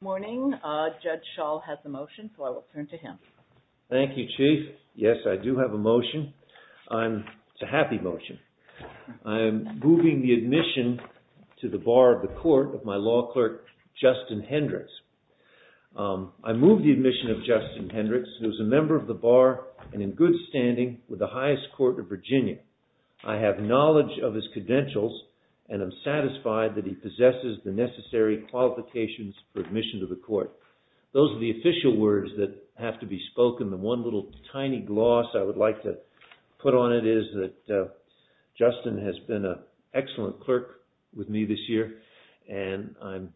Good morning. Judge Schall has a motion, so I will turn to him. Thank you, Chief. Yes, I do have a motion. It's a happy motion. I am moving the admission to the bar of the court of my law clerk, Justin Hendricks. I move the admission of Justin Hendricks, who is a member of the bar and in good standing with the highest court of Virginia. I have knowledge of his credentials and am satisfied that he possesses the necessary qualifications for admission to the court. Those are the official words that have to be spoken. The one little tiny gloss I would like to put on it is that Justin has been an excellent clerk with me this year, and I'm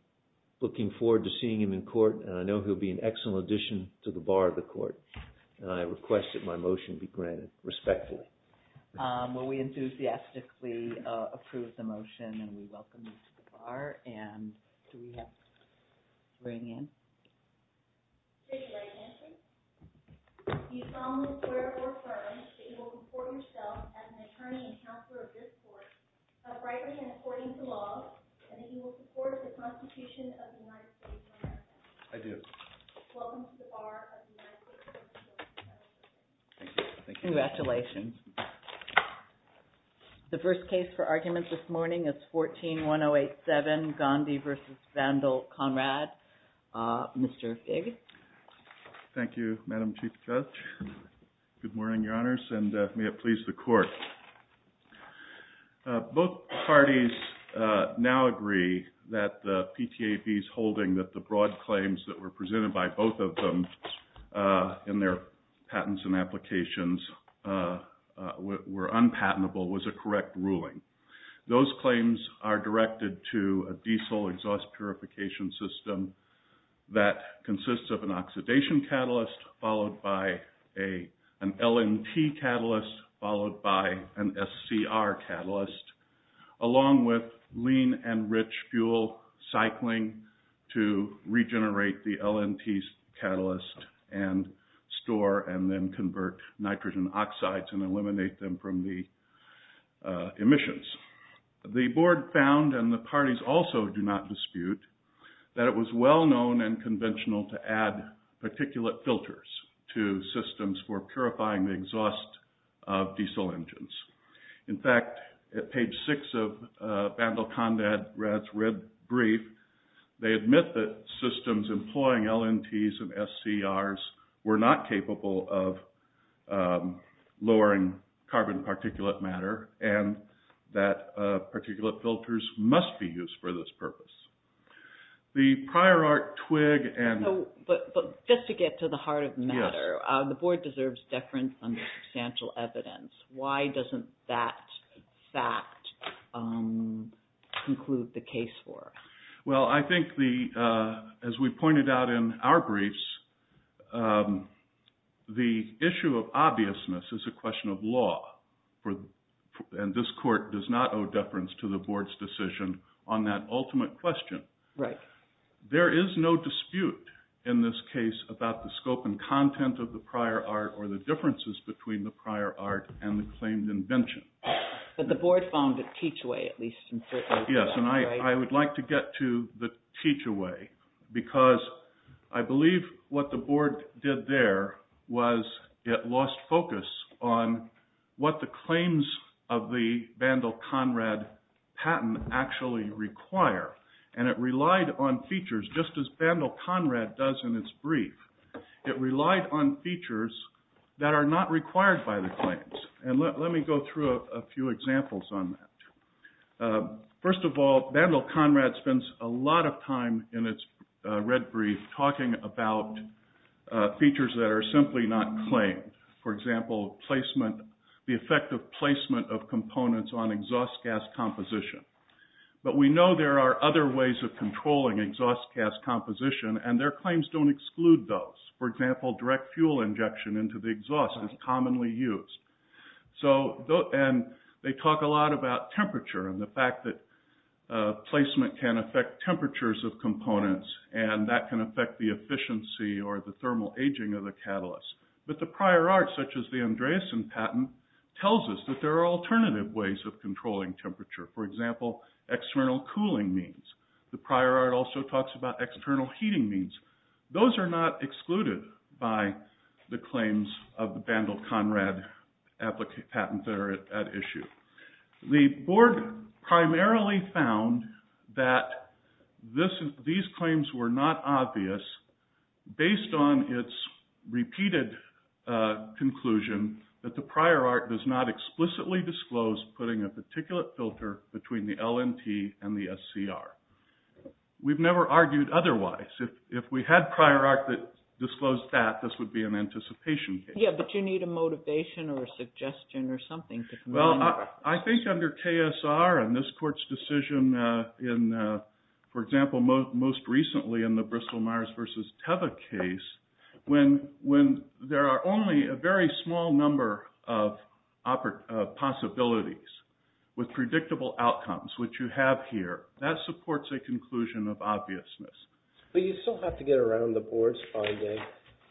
looking forward to seeing him in court, and I know he'll be an excellent addition to the bar of the court. And I request that my motion be granted respectfully. Well, we enthusiastically approve the motion, and we welcome you to the bar. And do we have to bring in? You solemnly swear or affirm that you will report yourself as an attorney and counselor of this court, rightly and according to law, and that you will support the Constitution of the United States of America. I do. Welcome to the bar of the United States of America. Thank you. Congratulations. The first case for argument this morning is 14-1087, Gandhi v. Vandal, Conrad. Mr. Figg. Thank you, Madam Chief Judge. Good morning, Your Honors, and may it please the Court. Both parties now agree that the PTAB's holding that the broad claims that were presented by both of them in their patents and applications were unpatentable was a correct ruling. Those claims are directed to a diesel exhaust purification system that consists of an oxidation catalyst, followed by an LNT catalyst, followed by an SCR catalyst, along with lean and rich fuel cycling to regenerate the LNT catalyst and store and then convert nitrogen oxides and eliminate them from the emissions. The Board found, and the parties also do not dispute, that it was well known and conventional to add particulate filters to systems for purifying the exhaust of diesel engines. In fact, at page 6 of Vandal-Conrad's red brief, they admit that systems employing LNTs and SCRs were not capable of lowering carbon particulate matter and that particulate filters must be used for this purpose. The prior art twig and... But just to get to the heart of the matter, the Board deserves deference on the substantial evidence. Why doesn't that fact conclude the case for us? Well, I think as we pointed out in our briefs, the issue of obviousness is a question of law, and this Court does not owe deference to the Board's decision on that ultimate question. Right. There is no dispute in this case about the scope and content of the prior art or the differences between the prior art and the claimed invention. But the Board found a teach-away at least in certain... Yes, and I would like to get to the teach-away because I believe what the Board did there was it lost focus on what the claims of the Vandal-Conrad patent actually require, and it relied on features just as Vandal-Conrad does in its brief. It relied on features that are not required by the claims, and let me go through a few examples on that. First of all, Vandal-Conrad spends a lot of time in its red brief talking about features that are simply not claimed. For example, the effect of placement of components on exhaust gas composition. But we know there are other ways of controlling exhaust gas composition, and their claims don't exclude those. For example, direct fuel injection into the exhaust is commonly used. And they talk a lot about temperature and the fact that placement can affect temperatures of components, and that can affect the efficiency or the thermal aging of the catalyst. But the prior art, such as the Andreasen patent, tells us that there are alternative ways of controlling temperature. For example, external cooling means. The prior art also talks about external heating means. Those are not excluded by the claims of the Vandal-Conrad patent that are at issue. The board primarily found that these claims were not obvious based on its repeated conclusion that the prior art does not explicitly disclose putting a particulate filter between the LNT and the SCR. We've never argued otherwise. If we had prior art that disclosed that, this would be an anticipation case. Yeah, but you need a motivation or a suggestion or something. Well, I think under KSR and this court's decision in, for example, most recently in the Bristol Myers v. Teva case, when there are only a very small number of possibilities with predictable outcomes, which you have here, that supports a conclusion of obviousness. But you still have to get around the board's finding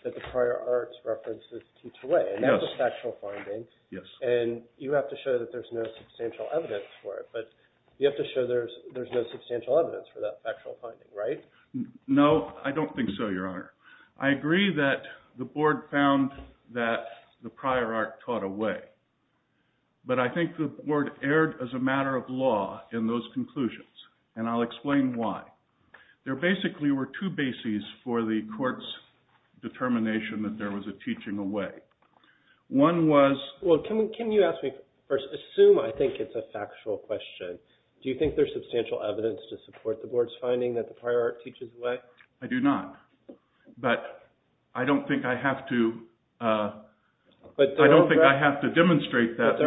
that the prior art's references teach away. And that's a factual finding. And you have to show that there's no substantial evidence for it. But you have to show there's no substantial evidence for that factual finding, right? No, I don't think so, Your Honor. I agree that the board found that the prior art taught away. But I think the board erred as a matter of law in those conclusions, and I'll explain why. There basically were two bases for the court's determination that there was a teaching away. One was – Well, can you ask me first – assume I think it's a factual question. Do you think there's substantial evidence to support the board's finding that the prior art teaches away? I do not. But I don't think I have to – I don't think I have to demonstrate that.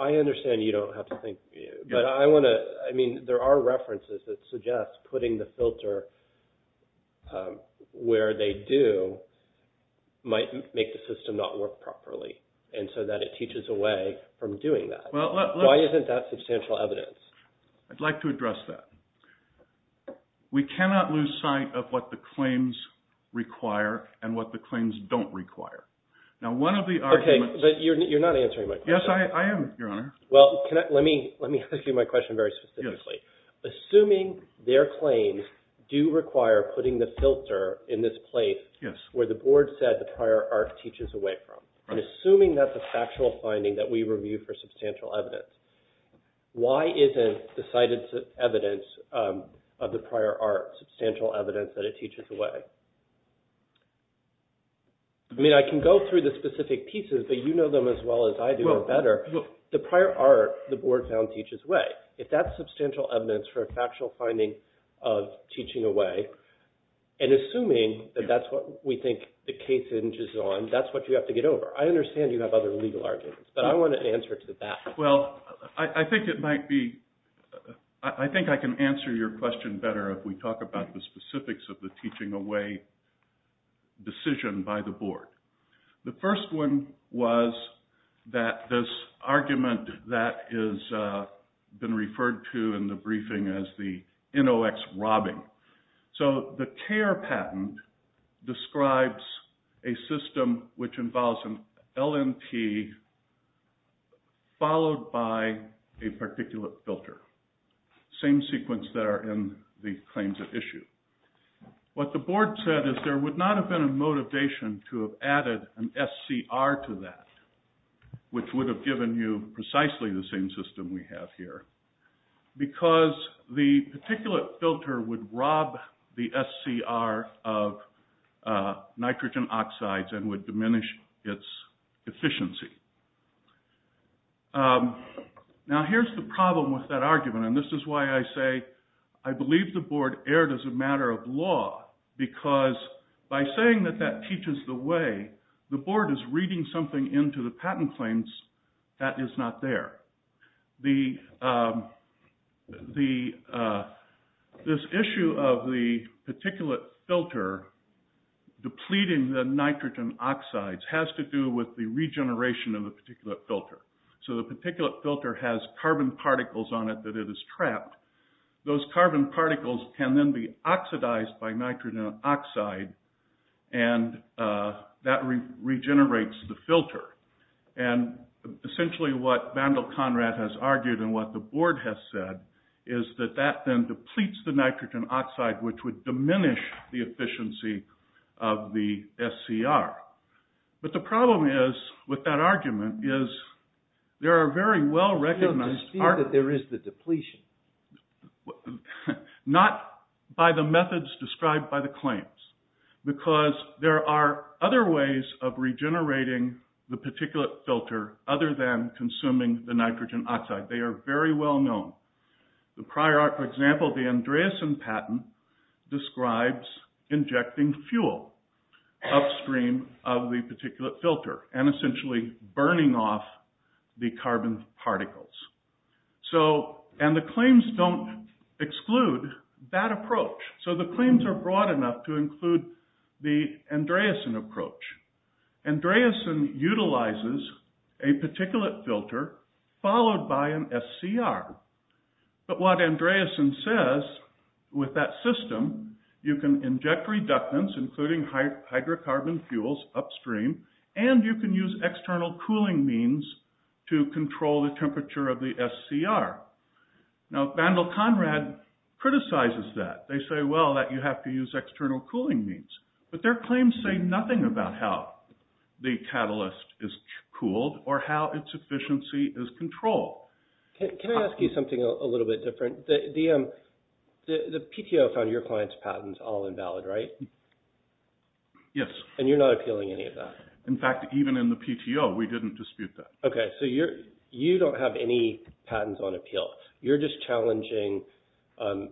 I understand you don't have to think. But I want to – I mean, there are references that suggest putting the filter where they do might make the system not work properly, and so that it teaches away from doing that. Why isn't that substantial evidence? I'd like to address that. We cannot lose sight of what the claims require and what the claims don't require. Now, one of the arguments – Yes, I am, Your Honor. Well, let me ask you my question very specifically. Assuming their claims do require putting the filter in this place where the board said the prior art teaches away from, and assuming that's a factual finding that we review for substantial evidence, why isn't the cited evidence of the prior art substantial evidence that it teaches away? I mean I can go through the specific pieces, but you know them as well as I do better. The prior art the board found teaches away. If that's substantial evidence for a factual finding of teaching away, and assuming that that's what we think the case hinges on, that's what you have to get over. I understand you have other legal arguments, but I want an answer to that. Well, I think it might be – I think I can answer your question better if we talk about the specifics of the teaching away decision by the board. The first one was that this argument that has been referred to in the briefing as the NOX robbing. So the CARE patent describes a system which involves an LNP followed by a particulate filter. Same sequence that are in the claims at issue. What the board said is there would not have been a motivation to have added an SCR to that, which would have given you precisely the same system we have here. Because the particulate filter would rob the SCR of nitrogen oxides and would diminish its efficiency. Now here's the problem with that argument, and this is why I say I believe the board erred as a matter of law. Because by saying that that teaches the way, the board is reading something into the patent claims that is not there. This issue of the particulate filter depleting the nitrogen oxides has to do with the regeneration of the particulate filter. So the particulate filter has carbon particles on it that it has trapped. Those carbon particles can then be oxidized by nitrogen oxide and that regenerates the filter. And essentially what Vandal Conrad has argued and what the board has said is that that then depletes the nitrogen oxide, which would diminish the efficiency of the SCR. But the problem is, with that argument, is there are very well-recognized... You don't dispute that there is the depletion. Not by the methods described by the claims. Because there are other ways of regenerating the particulate filter other than consuming the nitrogen oxide. They are very well known. For example, the Andreasen patent describes injecting fuel upstream of the particulate filter and essentially burning off the carbon particles. And the claims don't exclude that approach. So the claims are broad enough to include the Andreasen approach. Andreasen utilizes a particulate filter followed by an SCR. But what Andreasen says with that system, you can inject reductants, including hydrocarbon fuels upstream, and you can use external cooling means to control the temperature of the SCR. Now Vandal Conrad criticizes that. They say, well, that you have to use external cooling means. But their claims say nothing about how the catalyst is cooled or how its efficiency is controlled. Can I ask you something a little bit different? The PTO found your client's patents all invalid, right? Yes. And you're not appealing any of that? In fact, even in the PTO, we didn't dispute that. Okay, so you don't have any patents on appeal. You're just challenging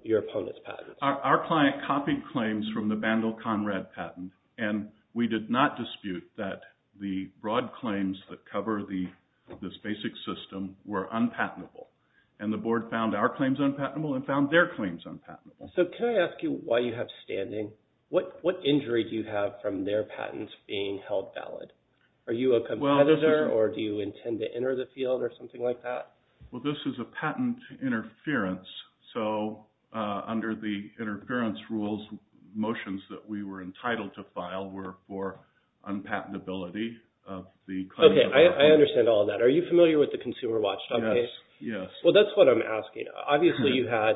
your opponent's patents. Our client copied claims from the Vandal Conrad patent, and we did not dispute that the broad claims that cover this basic system were unpatentable. And the board found our claims unpatentable and found their claims unpatentable. So can I ask you, while you have standing, what injury do you have from their patents being held valid? Are you a competitor or do you intend to enter the field or something like that? Well, this is a patent interference, so under the interference rules, motions that we were entitled to file were for unpatentability of the claims. Okay, I understand all that. Are you familiar with the Consumer Watch? Yes. Well, that's what I'm asking. Obviously, you had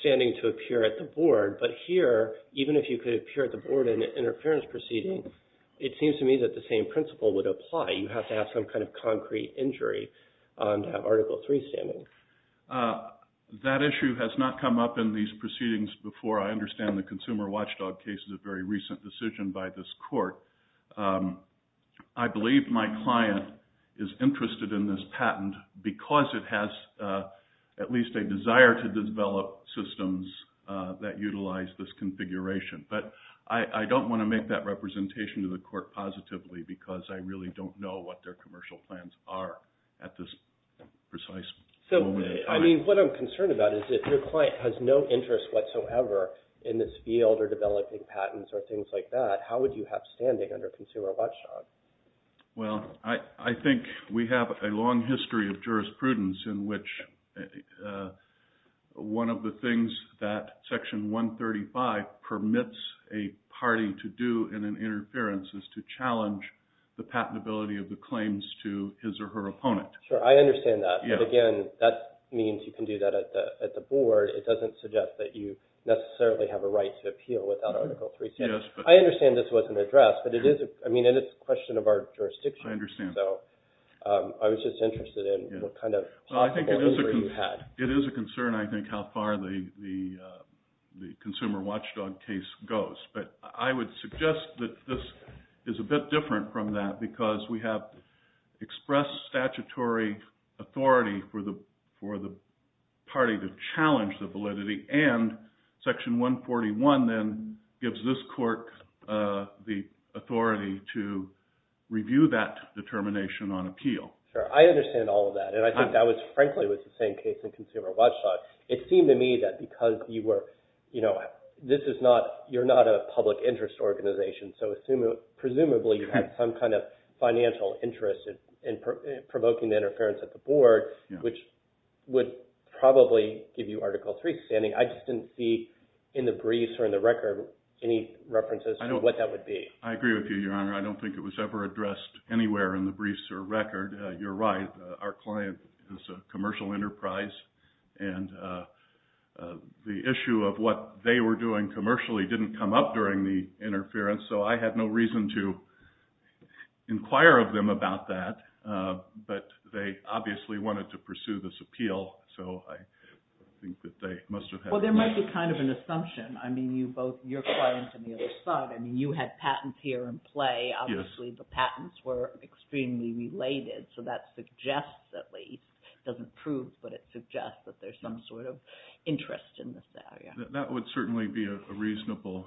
standing to appear at the board, but here, even if you could appear at the board in an interference proceeding, it seems to me that the same principle would apply. You have to have some kind of concrete injury to have Article III standing. That issue has not come up in these proceedings before. I understand the Consumer Watchdog case is a very recent decision by this court. I believe my client is interested in this patent because it has at least a desire to develop systems that utilize this configuration. But I don't want to make that representation to the court positively because I really don't know what their commercial plans are at this precise moment in time. I mean, what I'm concerned about is if your client has no interest whatsoever in this field or developing patents or things like that, how would you have standing under Consumer Watchdog? Well, I think we have a long history of jurisprudence in which one of the things that Section 135 permits a party to do in an interference is to challenge the patentability of the claims to his or her opponent. Sure, I understand that. But again, that means you can do that at the board. It doesn't suggest that you necessarily have a right to appeal without Article III standing. I understand this wasn't addressed, but it is a question of our jurisdiction. I understand. I was just interested in what kind of possible injury you had. It is a concern, I think, how far the Consumer Watchdog case goes. But I would suggest that this is a bit different from that because we have expressed statutory authority for the party to challenge the validity and Section 141 then gives this court the authority to review that determination on appeal. Sure, I understand all of that. And I think that was frankly the same case in Consumer Watchdog. It seemed to me that because you're not a public interest organization, so presumably you have some kind of financial interest in provoking interference at the board, which would probably give you Article III standing. I just didn't see in the briefs or in the record any references to what that would be. I agree with you, Your Honor. I don't think it was ever addressed anywhere in the briefs or record. You're right. Our client is a commercial enterprise, and the issue of what they were doing commercially didn't come up during the interference, so I had no reason to inquire of them about that. But they obviously wanted to pursue this appeal, so I think that they must have had— Well, there might be kind of an assumption. I mean, you both, your client and the other side, I mean, you had patents here in play. Obviously, the patents were extremely related, so that suggests at least, doesn't prove, but it suggests that there's some sort of interest in this area. That would certainly be a reasonable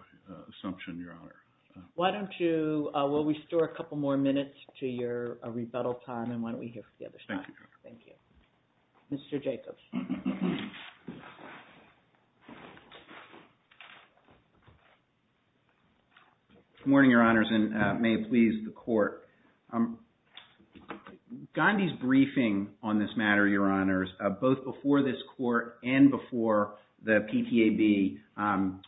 assumption, Your Honor. Why don't you—will we store a couple more minutes to your rebuttal time, and why don't we hear from the other side? Thank you, Your Honor. Thank you. Mr. Jacobs. Good morning, Your Honors, and may it please the Court. Gandhi's briefing on this matter, Your Honors, both before this Court and before the PTAB,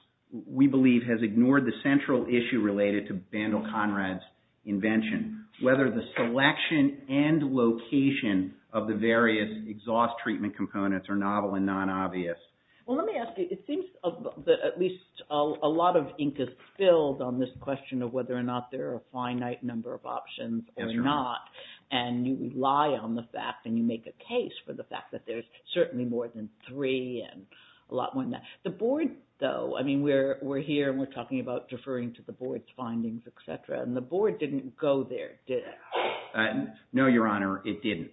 we believe has ignored the central issue related to Bandle-Conrad's invention, whether the selection and location of the various exhaust treatment components are novel and non-obvious. Well, let me ask you. It seems that at least a lot of ink is spilled on this question of whether or not there are a finite number of options or not, and you rely on the fact, and you make a case for the fact that there's certainly more than three and a lot more than that. The Board, though, I mean, we're here and we're talking about deferring to the Board's findings, et cetera, and the Board didn't go there, did it? No, Your Honor, it didn't.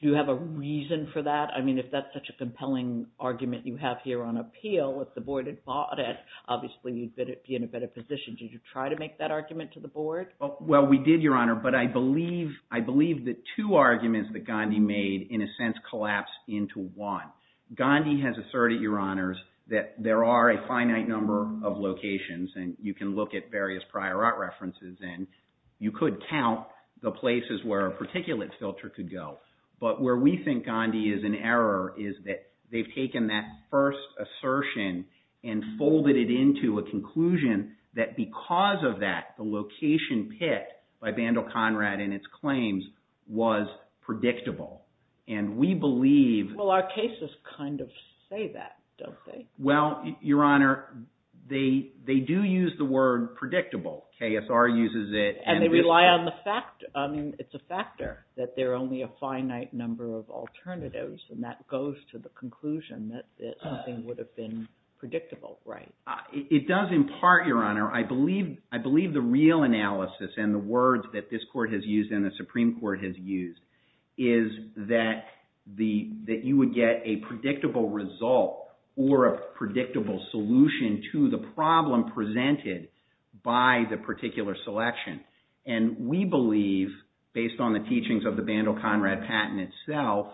Do you have a reason for that? I mean, if that's such a compelling argument you have here on appeal, if the Board had thought it, obviously you'd be in a better position. Did you try to make that argument to the Board? Well, we did, Your Honor, but I believe the two arguments that Gandhi made, in a sense, collapse into one. Gandhi has asserted, Your Honors, that there are a finite number of locations, and you can look at various prior art references, and you could count the places where a particulate filter could go. But where we think Gandhi is in error is that they've taken that first assertion and folded it into a conclusion that because of that, the location picked by Bandel Conrad in its claims was predictable. Well, our cases kind of say that, don't they? Well, Your Honor, they do use the word predictable. KSR uses it. And they rely on the fact, I mean, it's a factor that there are only a finite number of alternatives, and that goes to the conclusion that something would have been predictable, right? It does, in part, Your Honor. I believe the real analysis and the words that this Court has used and the Supreme Court has used is that you would get a predictable result or a predictable solution to the problem presented by the particular selection. And we believe, based on the teachings of the Bandel Conrad patent itself,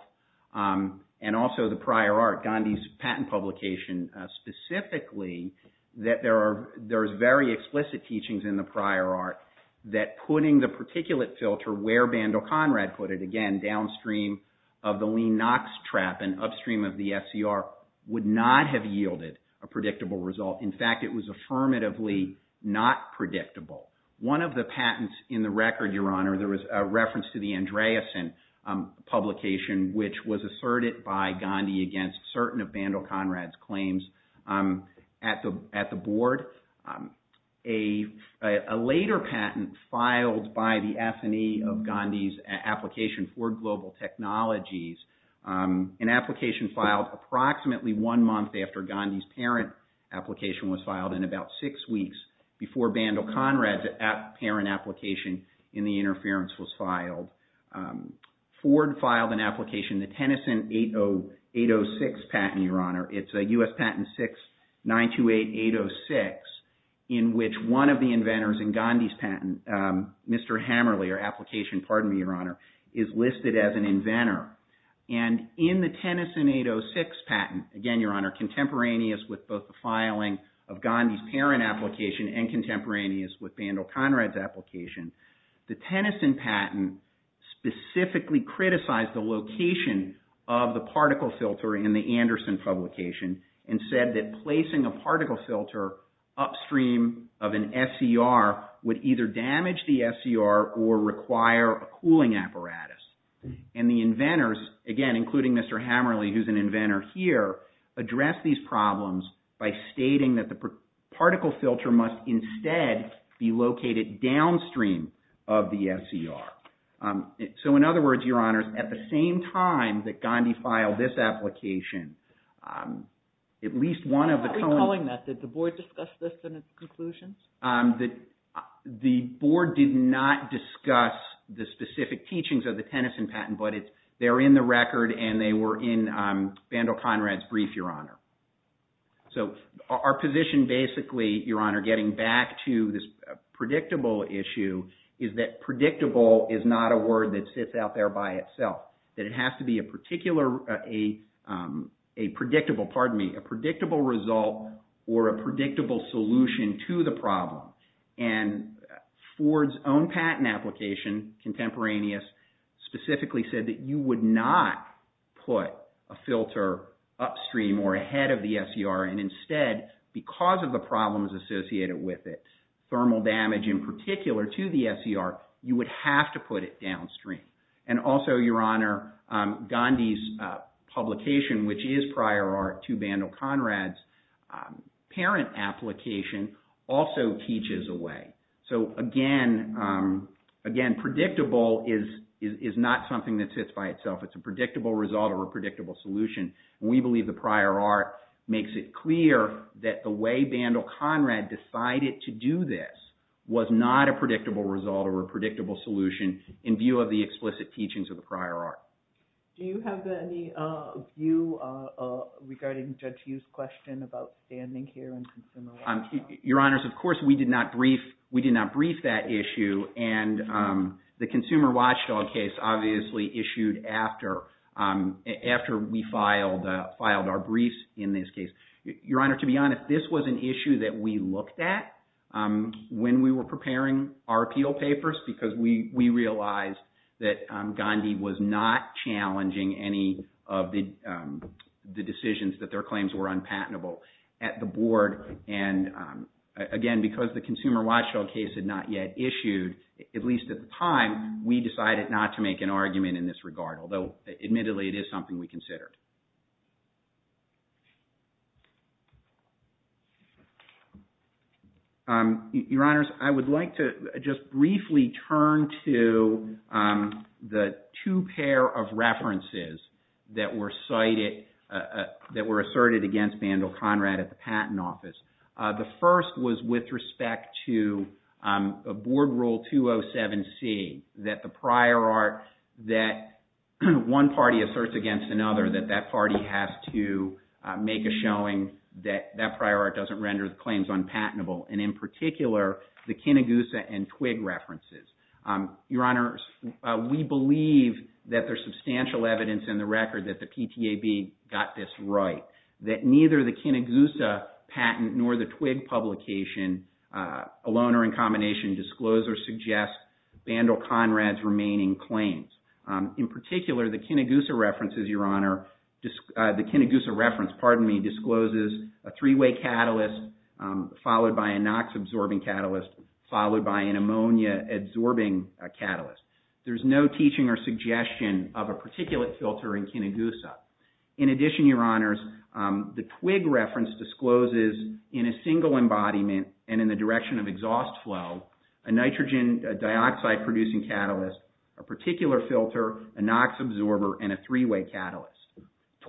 and also the prior art, Gandhi's patent publication specifically, that there are very explicit teachings in the prior art that putting the particulate filter where Bandel Conrad put it, again, downstream of the Lean Knox trap and upstream of the SCR, would not have yielded a predictable result. In fact, it was affirmatively not predictable. One of the patents in the record, Your Honor, there was a reference to the Andreasen publication, which was asserted by Gandhi against certain of Bandel Conrad's claims at the board. A later patent filed by the F&E of Gandhi's application for global technologies, an application filed approximately one month after Gandhi's parent application was filed, in about six weeks before Bandel Conrad's parent application in the interference was filed. Ford filed an application, the Tennyson 806 patent, Your Honor. It's a U.S. patent 6-928-806, in which one of the inventors in Gandhi's patent, Mr. Hammerly, or application, pardon me, Your Honor, is listed as an inventor. And in the Tennyson 806 patent, again, Your Honor, contemporaneous with both the filing of Gandhi's parent application The Tennyson patent specifically criticized the location of the particle filter in the Andersen publication and said that placing a particle filter upstream of an SCR would either damage the SCR or require a cooling apparatus. And the inventors, again, including Mr. Hammerly, who's an inventor here, addressed these problems by stating that the particle filter must instead be located downstream of the SCR. So, in other words, Your Honors, at the same time that Gandhi filed this application, at least one of the... I'm not recalling that. Did the board discuss this in its conclusions? The board did not discuss the specific teachings of the Tennyson patent, but they're in the record and they were in Vandal Conrad's brief, Your Honor. So, our position basically, Your Honor, getting back to this predictable issue, is that predictable is not a word that sits out there by itself. That it has to be a predictable result or a predictable solution to the problem. And Ford's own patent application, contemporaneous, specifically said that you would not put a filter upstream or ahead of the SCR and instead, because of the problems associated with it, thermal damage in particular to the SCR, you would have to put it downstream. And also, Your Honor, Gandhi's publication, which is prior art to Vandal Conrad's parent application, also teaches a way. So, again, predictable is not something that sits by itself. It's a predictable result or a predictable solution. We believe the prior art makes it clear that the way Vandal Conrad decided to do this was not a predictable result or a predictable solution in view of the explicit teachings of the prior art. Do you have any view regarding Judge Hughes' question about standing here and consumer watchdog? Your Honor, of course, we did not brief that issue. And the consumer watchdog case obviously issued after we filed our briefs in this case. Your Honor, to be honest, this was an issue that we looked at when we were preparing our appeal papers because we realized that Gandhi was not challenging any of the decisions that their claims were unpatentable at the board. And, again, because the consumer watchdog case had not yet issued, at least at the time, we decided not to make an argument in this regard, although admittedly it is something we considered. Your Honors, I would like to just briefly turn to the two pair of references that were cited, that were asserted against Vandal Conrad at the Patent Office. The first was with respect to Board Rule 207C, that the prior art that one party asserts against another, that that party has to make a showing that that prior art doesn't render the claims unpatentable. And, in particular, the Kinegusa and Twig references. Your Honors, we believe that there's substantial evidence in the record that the PTAB got this right, that neither the Kinegusa patent nor the Twig publication, alone or in combination, disclose or suggest Vandal Conrad's remaining claims. In particular, the Kinegusa references, Your Honor, the Kinegusa reference, pardon me, discloses a three-way catalyst, followed by a NOx-absorbing catalyst, followed by an ammonia-absorbing catalyst. There's no teaching or suggestion of a particulate filter in Kinegusa. In addition, Your Honors, the Twig reference discloses, in a single embodiment and in the direction of exhaust flow, a nitrogen dioxide-producing catalyst, a particular filter, a NOx-absorber, and a three-way catalyst.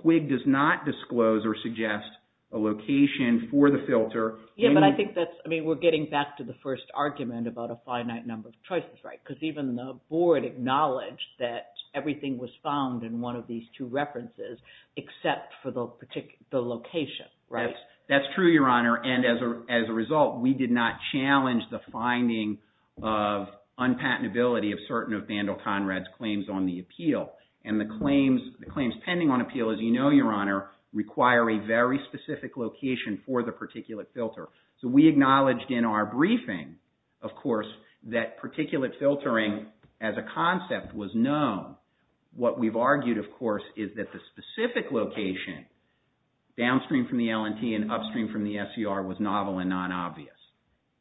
Twig does not disclose or suggest a location for the filter. Yeah, but I think that's, I mean, we're getting back to the first argument about a finite number of choices, right? Because even the board acknowledged that everything was found in one of these two references, except for the location, right? That's true, Your Honor, and as a result, we did not challenge the finding of unpatentability of certain of Vandal Conrad's claims on the appeal. And the claims pending on appeal, as you know, Your Honor, require a very specific location for the particulate filter. So we acknowledged in our briefing, of course, that particulate filtering as a concept was known. What we've argued, of course, is that the specific location, downstream from the L&T and upstream from the SER, was novel and non-obvious.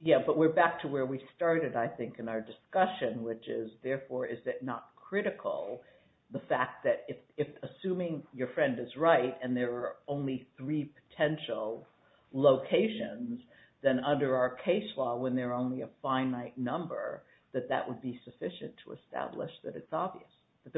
Yeah, but we're back to where we started, I think, in our discussion, which is, therefore, is it not critical, the fact that if, assuming your friend is right, and there are only three potential locations, then under our case law, when there are only a finite number, that that would be sufficient to establish that it's obvious, that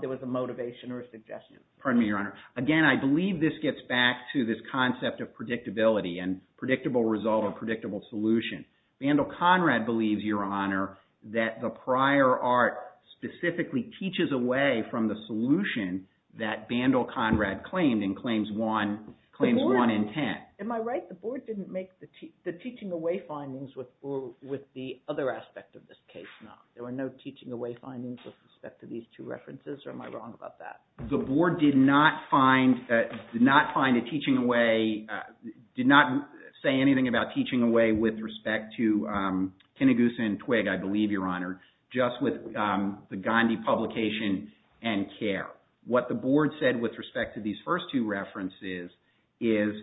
there was a motivation or a suggestion. Pardon me, Your Honor. Again, I believe this gets back to this concept of predictability and predictable result or predictable solution. Vandal Conrad believes, Your Honor, that the prior art specifically teaches away from the solution that Vandal Conrad claimed and claims one intent. Am I right? The board didn't make the teaching away findings with the other aspect of this case, no? There were no teaching away findings with respect to these two references, or am I wrong about that? The board did not find, did not find a teaching away, did not say anything about teaching away with respect to Kinagusa and Twigg, I believe, Your Honor, just with the Gandhi publication and care. What the board said with respect to these first two references is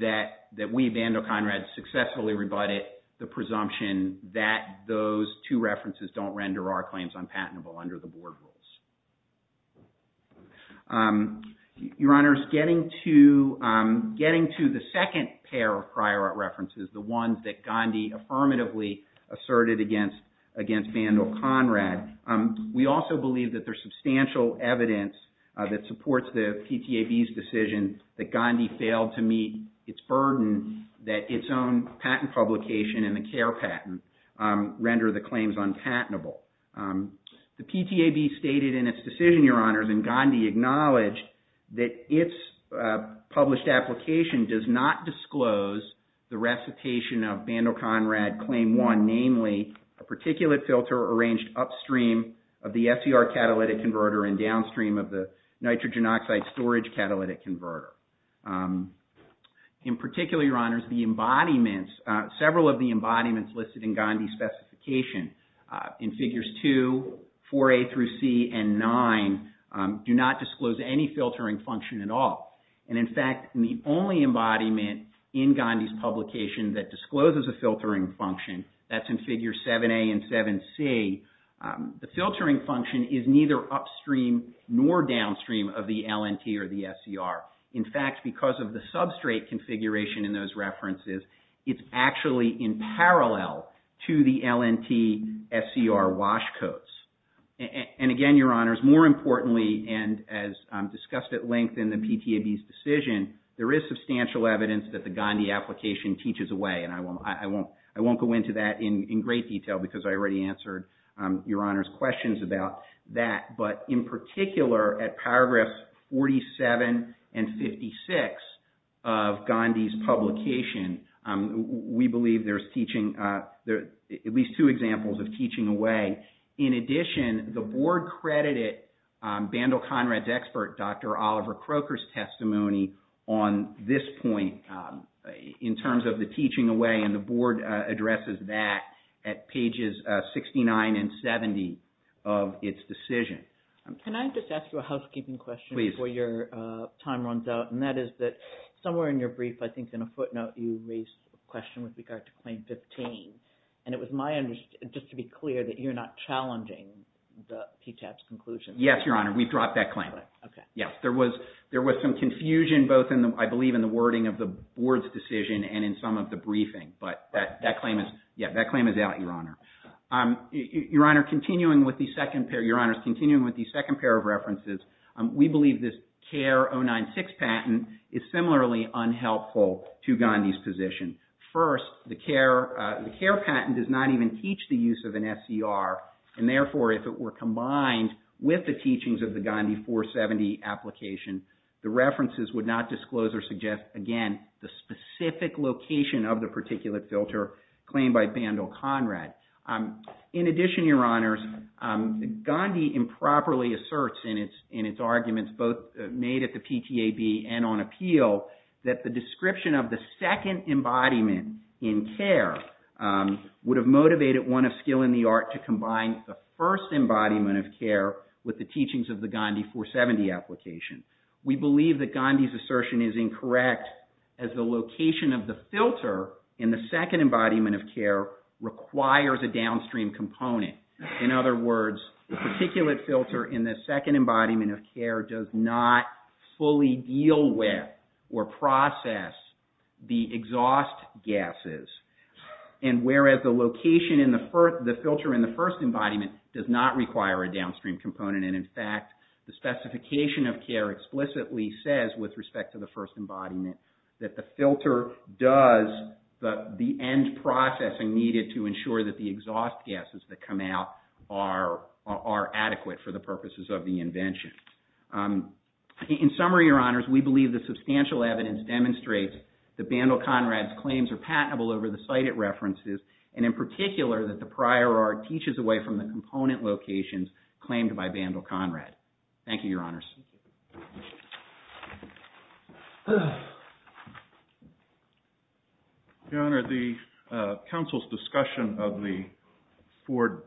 that we, Vandal Conrad, successfully rebutted the presumption that those two references don't render our claims unpatentable under the board rules. Your Honor, getting to the second pair of prior art references, the ones that Gandhi affirmatively asserted against Vandal Conrad, we also believe that there's substantial evidence that supports the PTAB's decision that Gandhi failed to meet its burden that its own patent publication and the care patent render the claims unpatentable. The PTAB stated in its decision, Your Honors, and Gandhi acknowledged that its published application does not disclose the recitation of Vandal Conrad Claim 1, namely a particulate filter arranged upstream of the FCR catalytic converter and downstream of the nitrogen oxide storage catalytic converter. In particular, Your Honors, the embodiments, several of the embodiments listed in Gandhi's specification in figures 2, 4A through C, and 9 do not disclose any filtering function at all. In fact, the only embodiment in Gandhi's publication that discloses a filtering function, that's in figure 7A and 7C, the filtering function is neither upstream nor downstream of the LNT or the SCR. In fact, because of the substrate configuration in those references, it's actually in parallel to the LNT SCR wash codes. And again, Your Honors, more importantly, and as discussed at length in the PTAB's decision, there is substantial evidence that the Gandhi application teaches away and I won't go into that in great detail because I already answered Your Honors' questions about that. But in particular, at paragraphs 47 and 56 of Gandhi's publication, we believe there's teaching, at least two examples of teaching away. In addition, the board credited Bandle Conrad's expert, Dr. Oliver Croker's testimony on this point in terms of the teaching away and the board addresses that at pages 69 and 70 of its decision. Can I just ask you a housekeeping question before your time runs out? And that is that somewhere in your brief, I think in a footnote, you raised a question with regard to Claim 15. And it was my understanding, just to be clear, that you're not challenging the PTAB's conclusion. Yes, Your Honor, we've dropped that claim. Yes, there was some confusion both, I believe, in the wording of the board's decision and in some of the briefing. But that claim is out, Your Honor. Your Honors, continuing with the second pair of references, we believe this CARE 096 patent is similarly unhelpful to Gandhi's position. First, the CARE patent does not even teach the use of an SCR. And therefore, if it were combined with the teachings of the Gandhi 470 application, the references would not disclose or suggest, again, the specific location of the particulate filter claimed by Bandle Conrad. In addition, Your Honors, Gandhi improperly asserts in its arguments both made at the PTAB and on appeal that the description of the second embodiment in CARE would have motivated one of skill in the art to combine the first embodiment of CARE with the teachings of the Gandhi 470 application. We believe that Gandhi's assertion is incorrect as the location of the filter in the second embodiment of CARE requires a downstream component. In other words, the particulate filter in the second embodiment of CARE does not fully deal with or process the exhaust gases. And whereas the location in the filter in the first embodiment does not require a downstream component. And in fact, the specification of CARE explicitly says, with respect to the first embodiment, that the filter does the end processing needed to ensure that the exhaust gases that come out are adequate for the purposes of the invention. In summary, Your Honors, we believe that substantial evidence demonstrates that Bandle Conrad's claims are patentable over the cited references and in particular that the prior art teaches away from the component locations claimed by Bandle Conrad. Thank you, Your Honors. Your Honor, the council's discussion of the Ford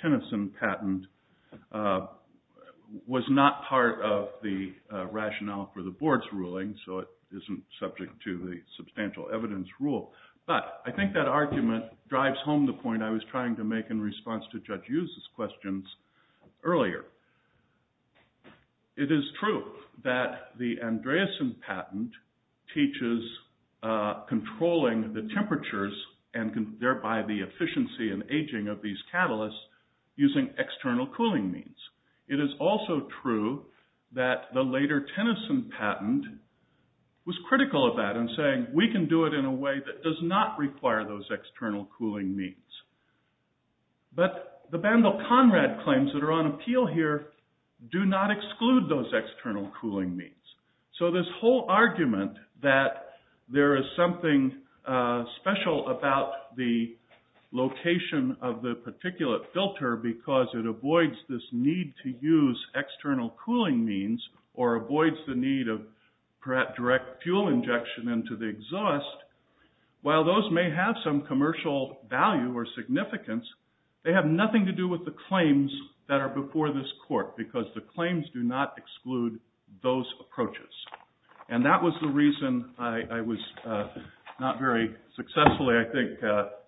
Tennyson patent was not part of the rationale for the board's ruling, so it isn't subject to the substantial evidence rule. But I think that argument drives home the point I was trying to make in response to Judge Hughes' questions earlier. It is true that the Andreassen patent teaches controlling the temperatures and thereby the efficiency and aging of these catalysts using external cooling means. It is also true that the later Tennyson patent was critical of that in saying we can do it in a way that does not require those external cooling means. But the Bandle Conrad claims that are on appeal here do not exclude those external cooling means. So this whole argument that there is something special about the location of the particulate filter because it avoids this need to use external cooling means or avoids the need of direct fuel injection into the exhaust, while those may have some commercial value or significance, they have nothing to do with the claims that are before this court because the claims do not exclude those approaches. And that was the reason I was not very successfully, I think,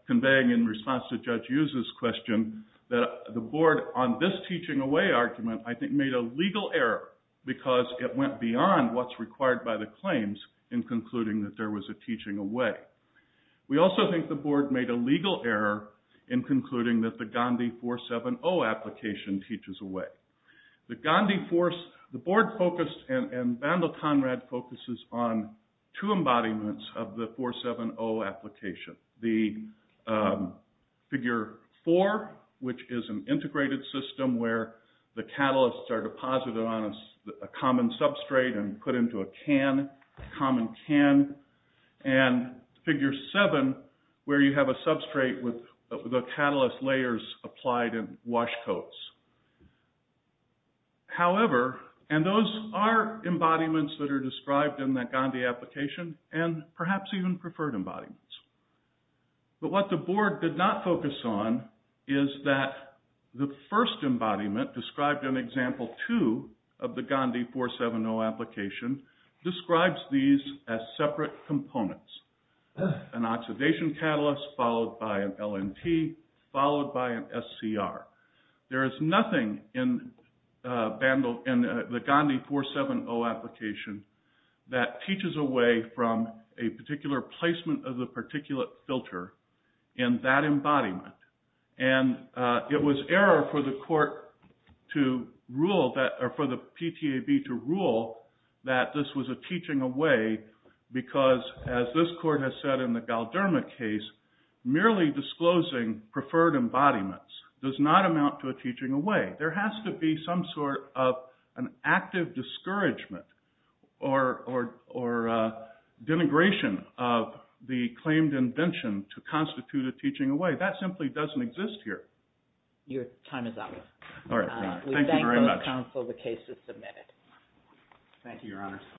conveying in response to Judge Hughes' question that the board on this teaching away argument I think made a legal error because it went beyond what's required by the claims in concluding that there was a teaching away. We also think the board made a legal error in concluding that the Gandhi 470 application teaches away. The board focused and Bandle Conrad focuses on two embodiments of the 470 application. The figure four, which is an integrated system where the catalysts are deposited on a common substrate and put into a can, a common can. And figure seven, where you have a substrate with the catalyst layers applied in wash coats. However, and those are embodiments that are described in that Gandhi application and perhaps even preferred embodiments. But what the board did not focus on is that the first embodiment described in example two of the Gandhi 470 application describes these as separate components. An oxidation catalyst followed by an LNP, followed by an SCR. There is nothing in the Gandhi 470 application that teaches away from a particular placement of the particulate filter in that embodiment. And it was error for the PTAB to rule that this was a teaching away because as this court has said in the Galderma case, merely disclosing preferred embodiments does not amount to a teaching away. There has to be some sort of an active discouragement or denigration of the claimed invention to constitute a teaching away. That simply doesn't exist here. Your time is up. All right. Thank you very much. We thank both counsel the case is submitted. Thank you, Your Honor.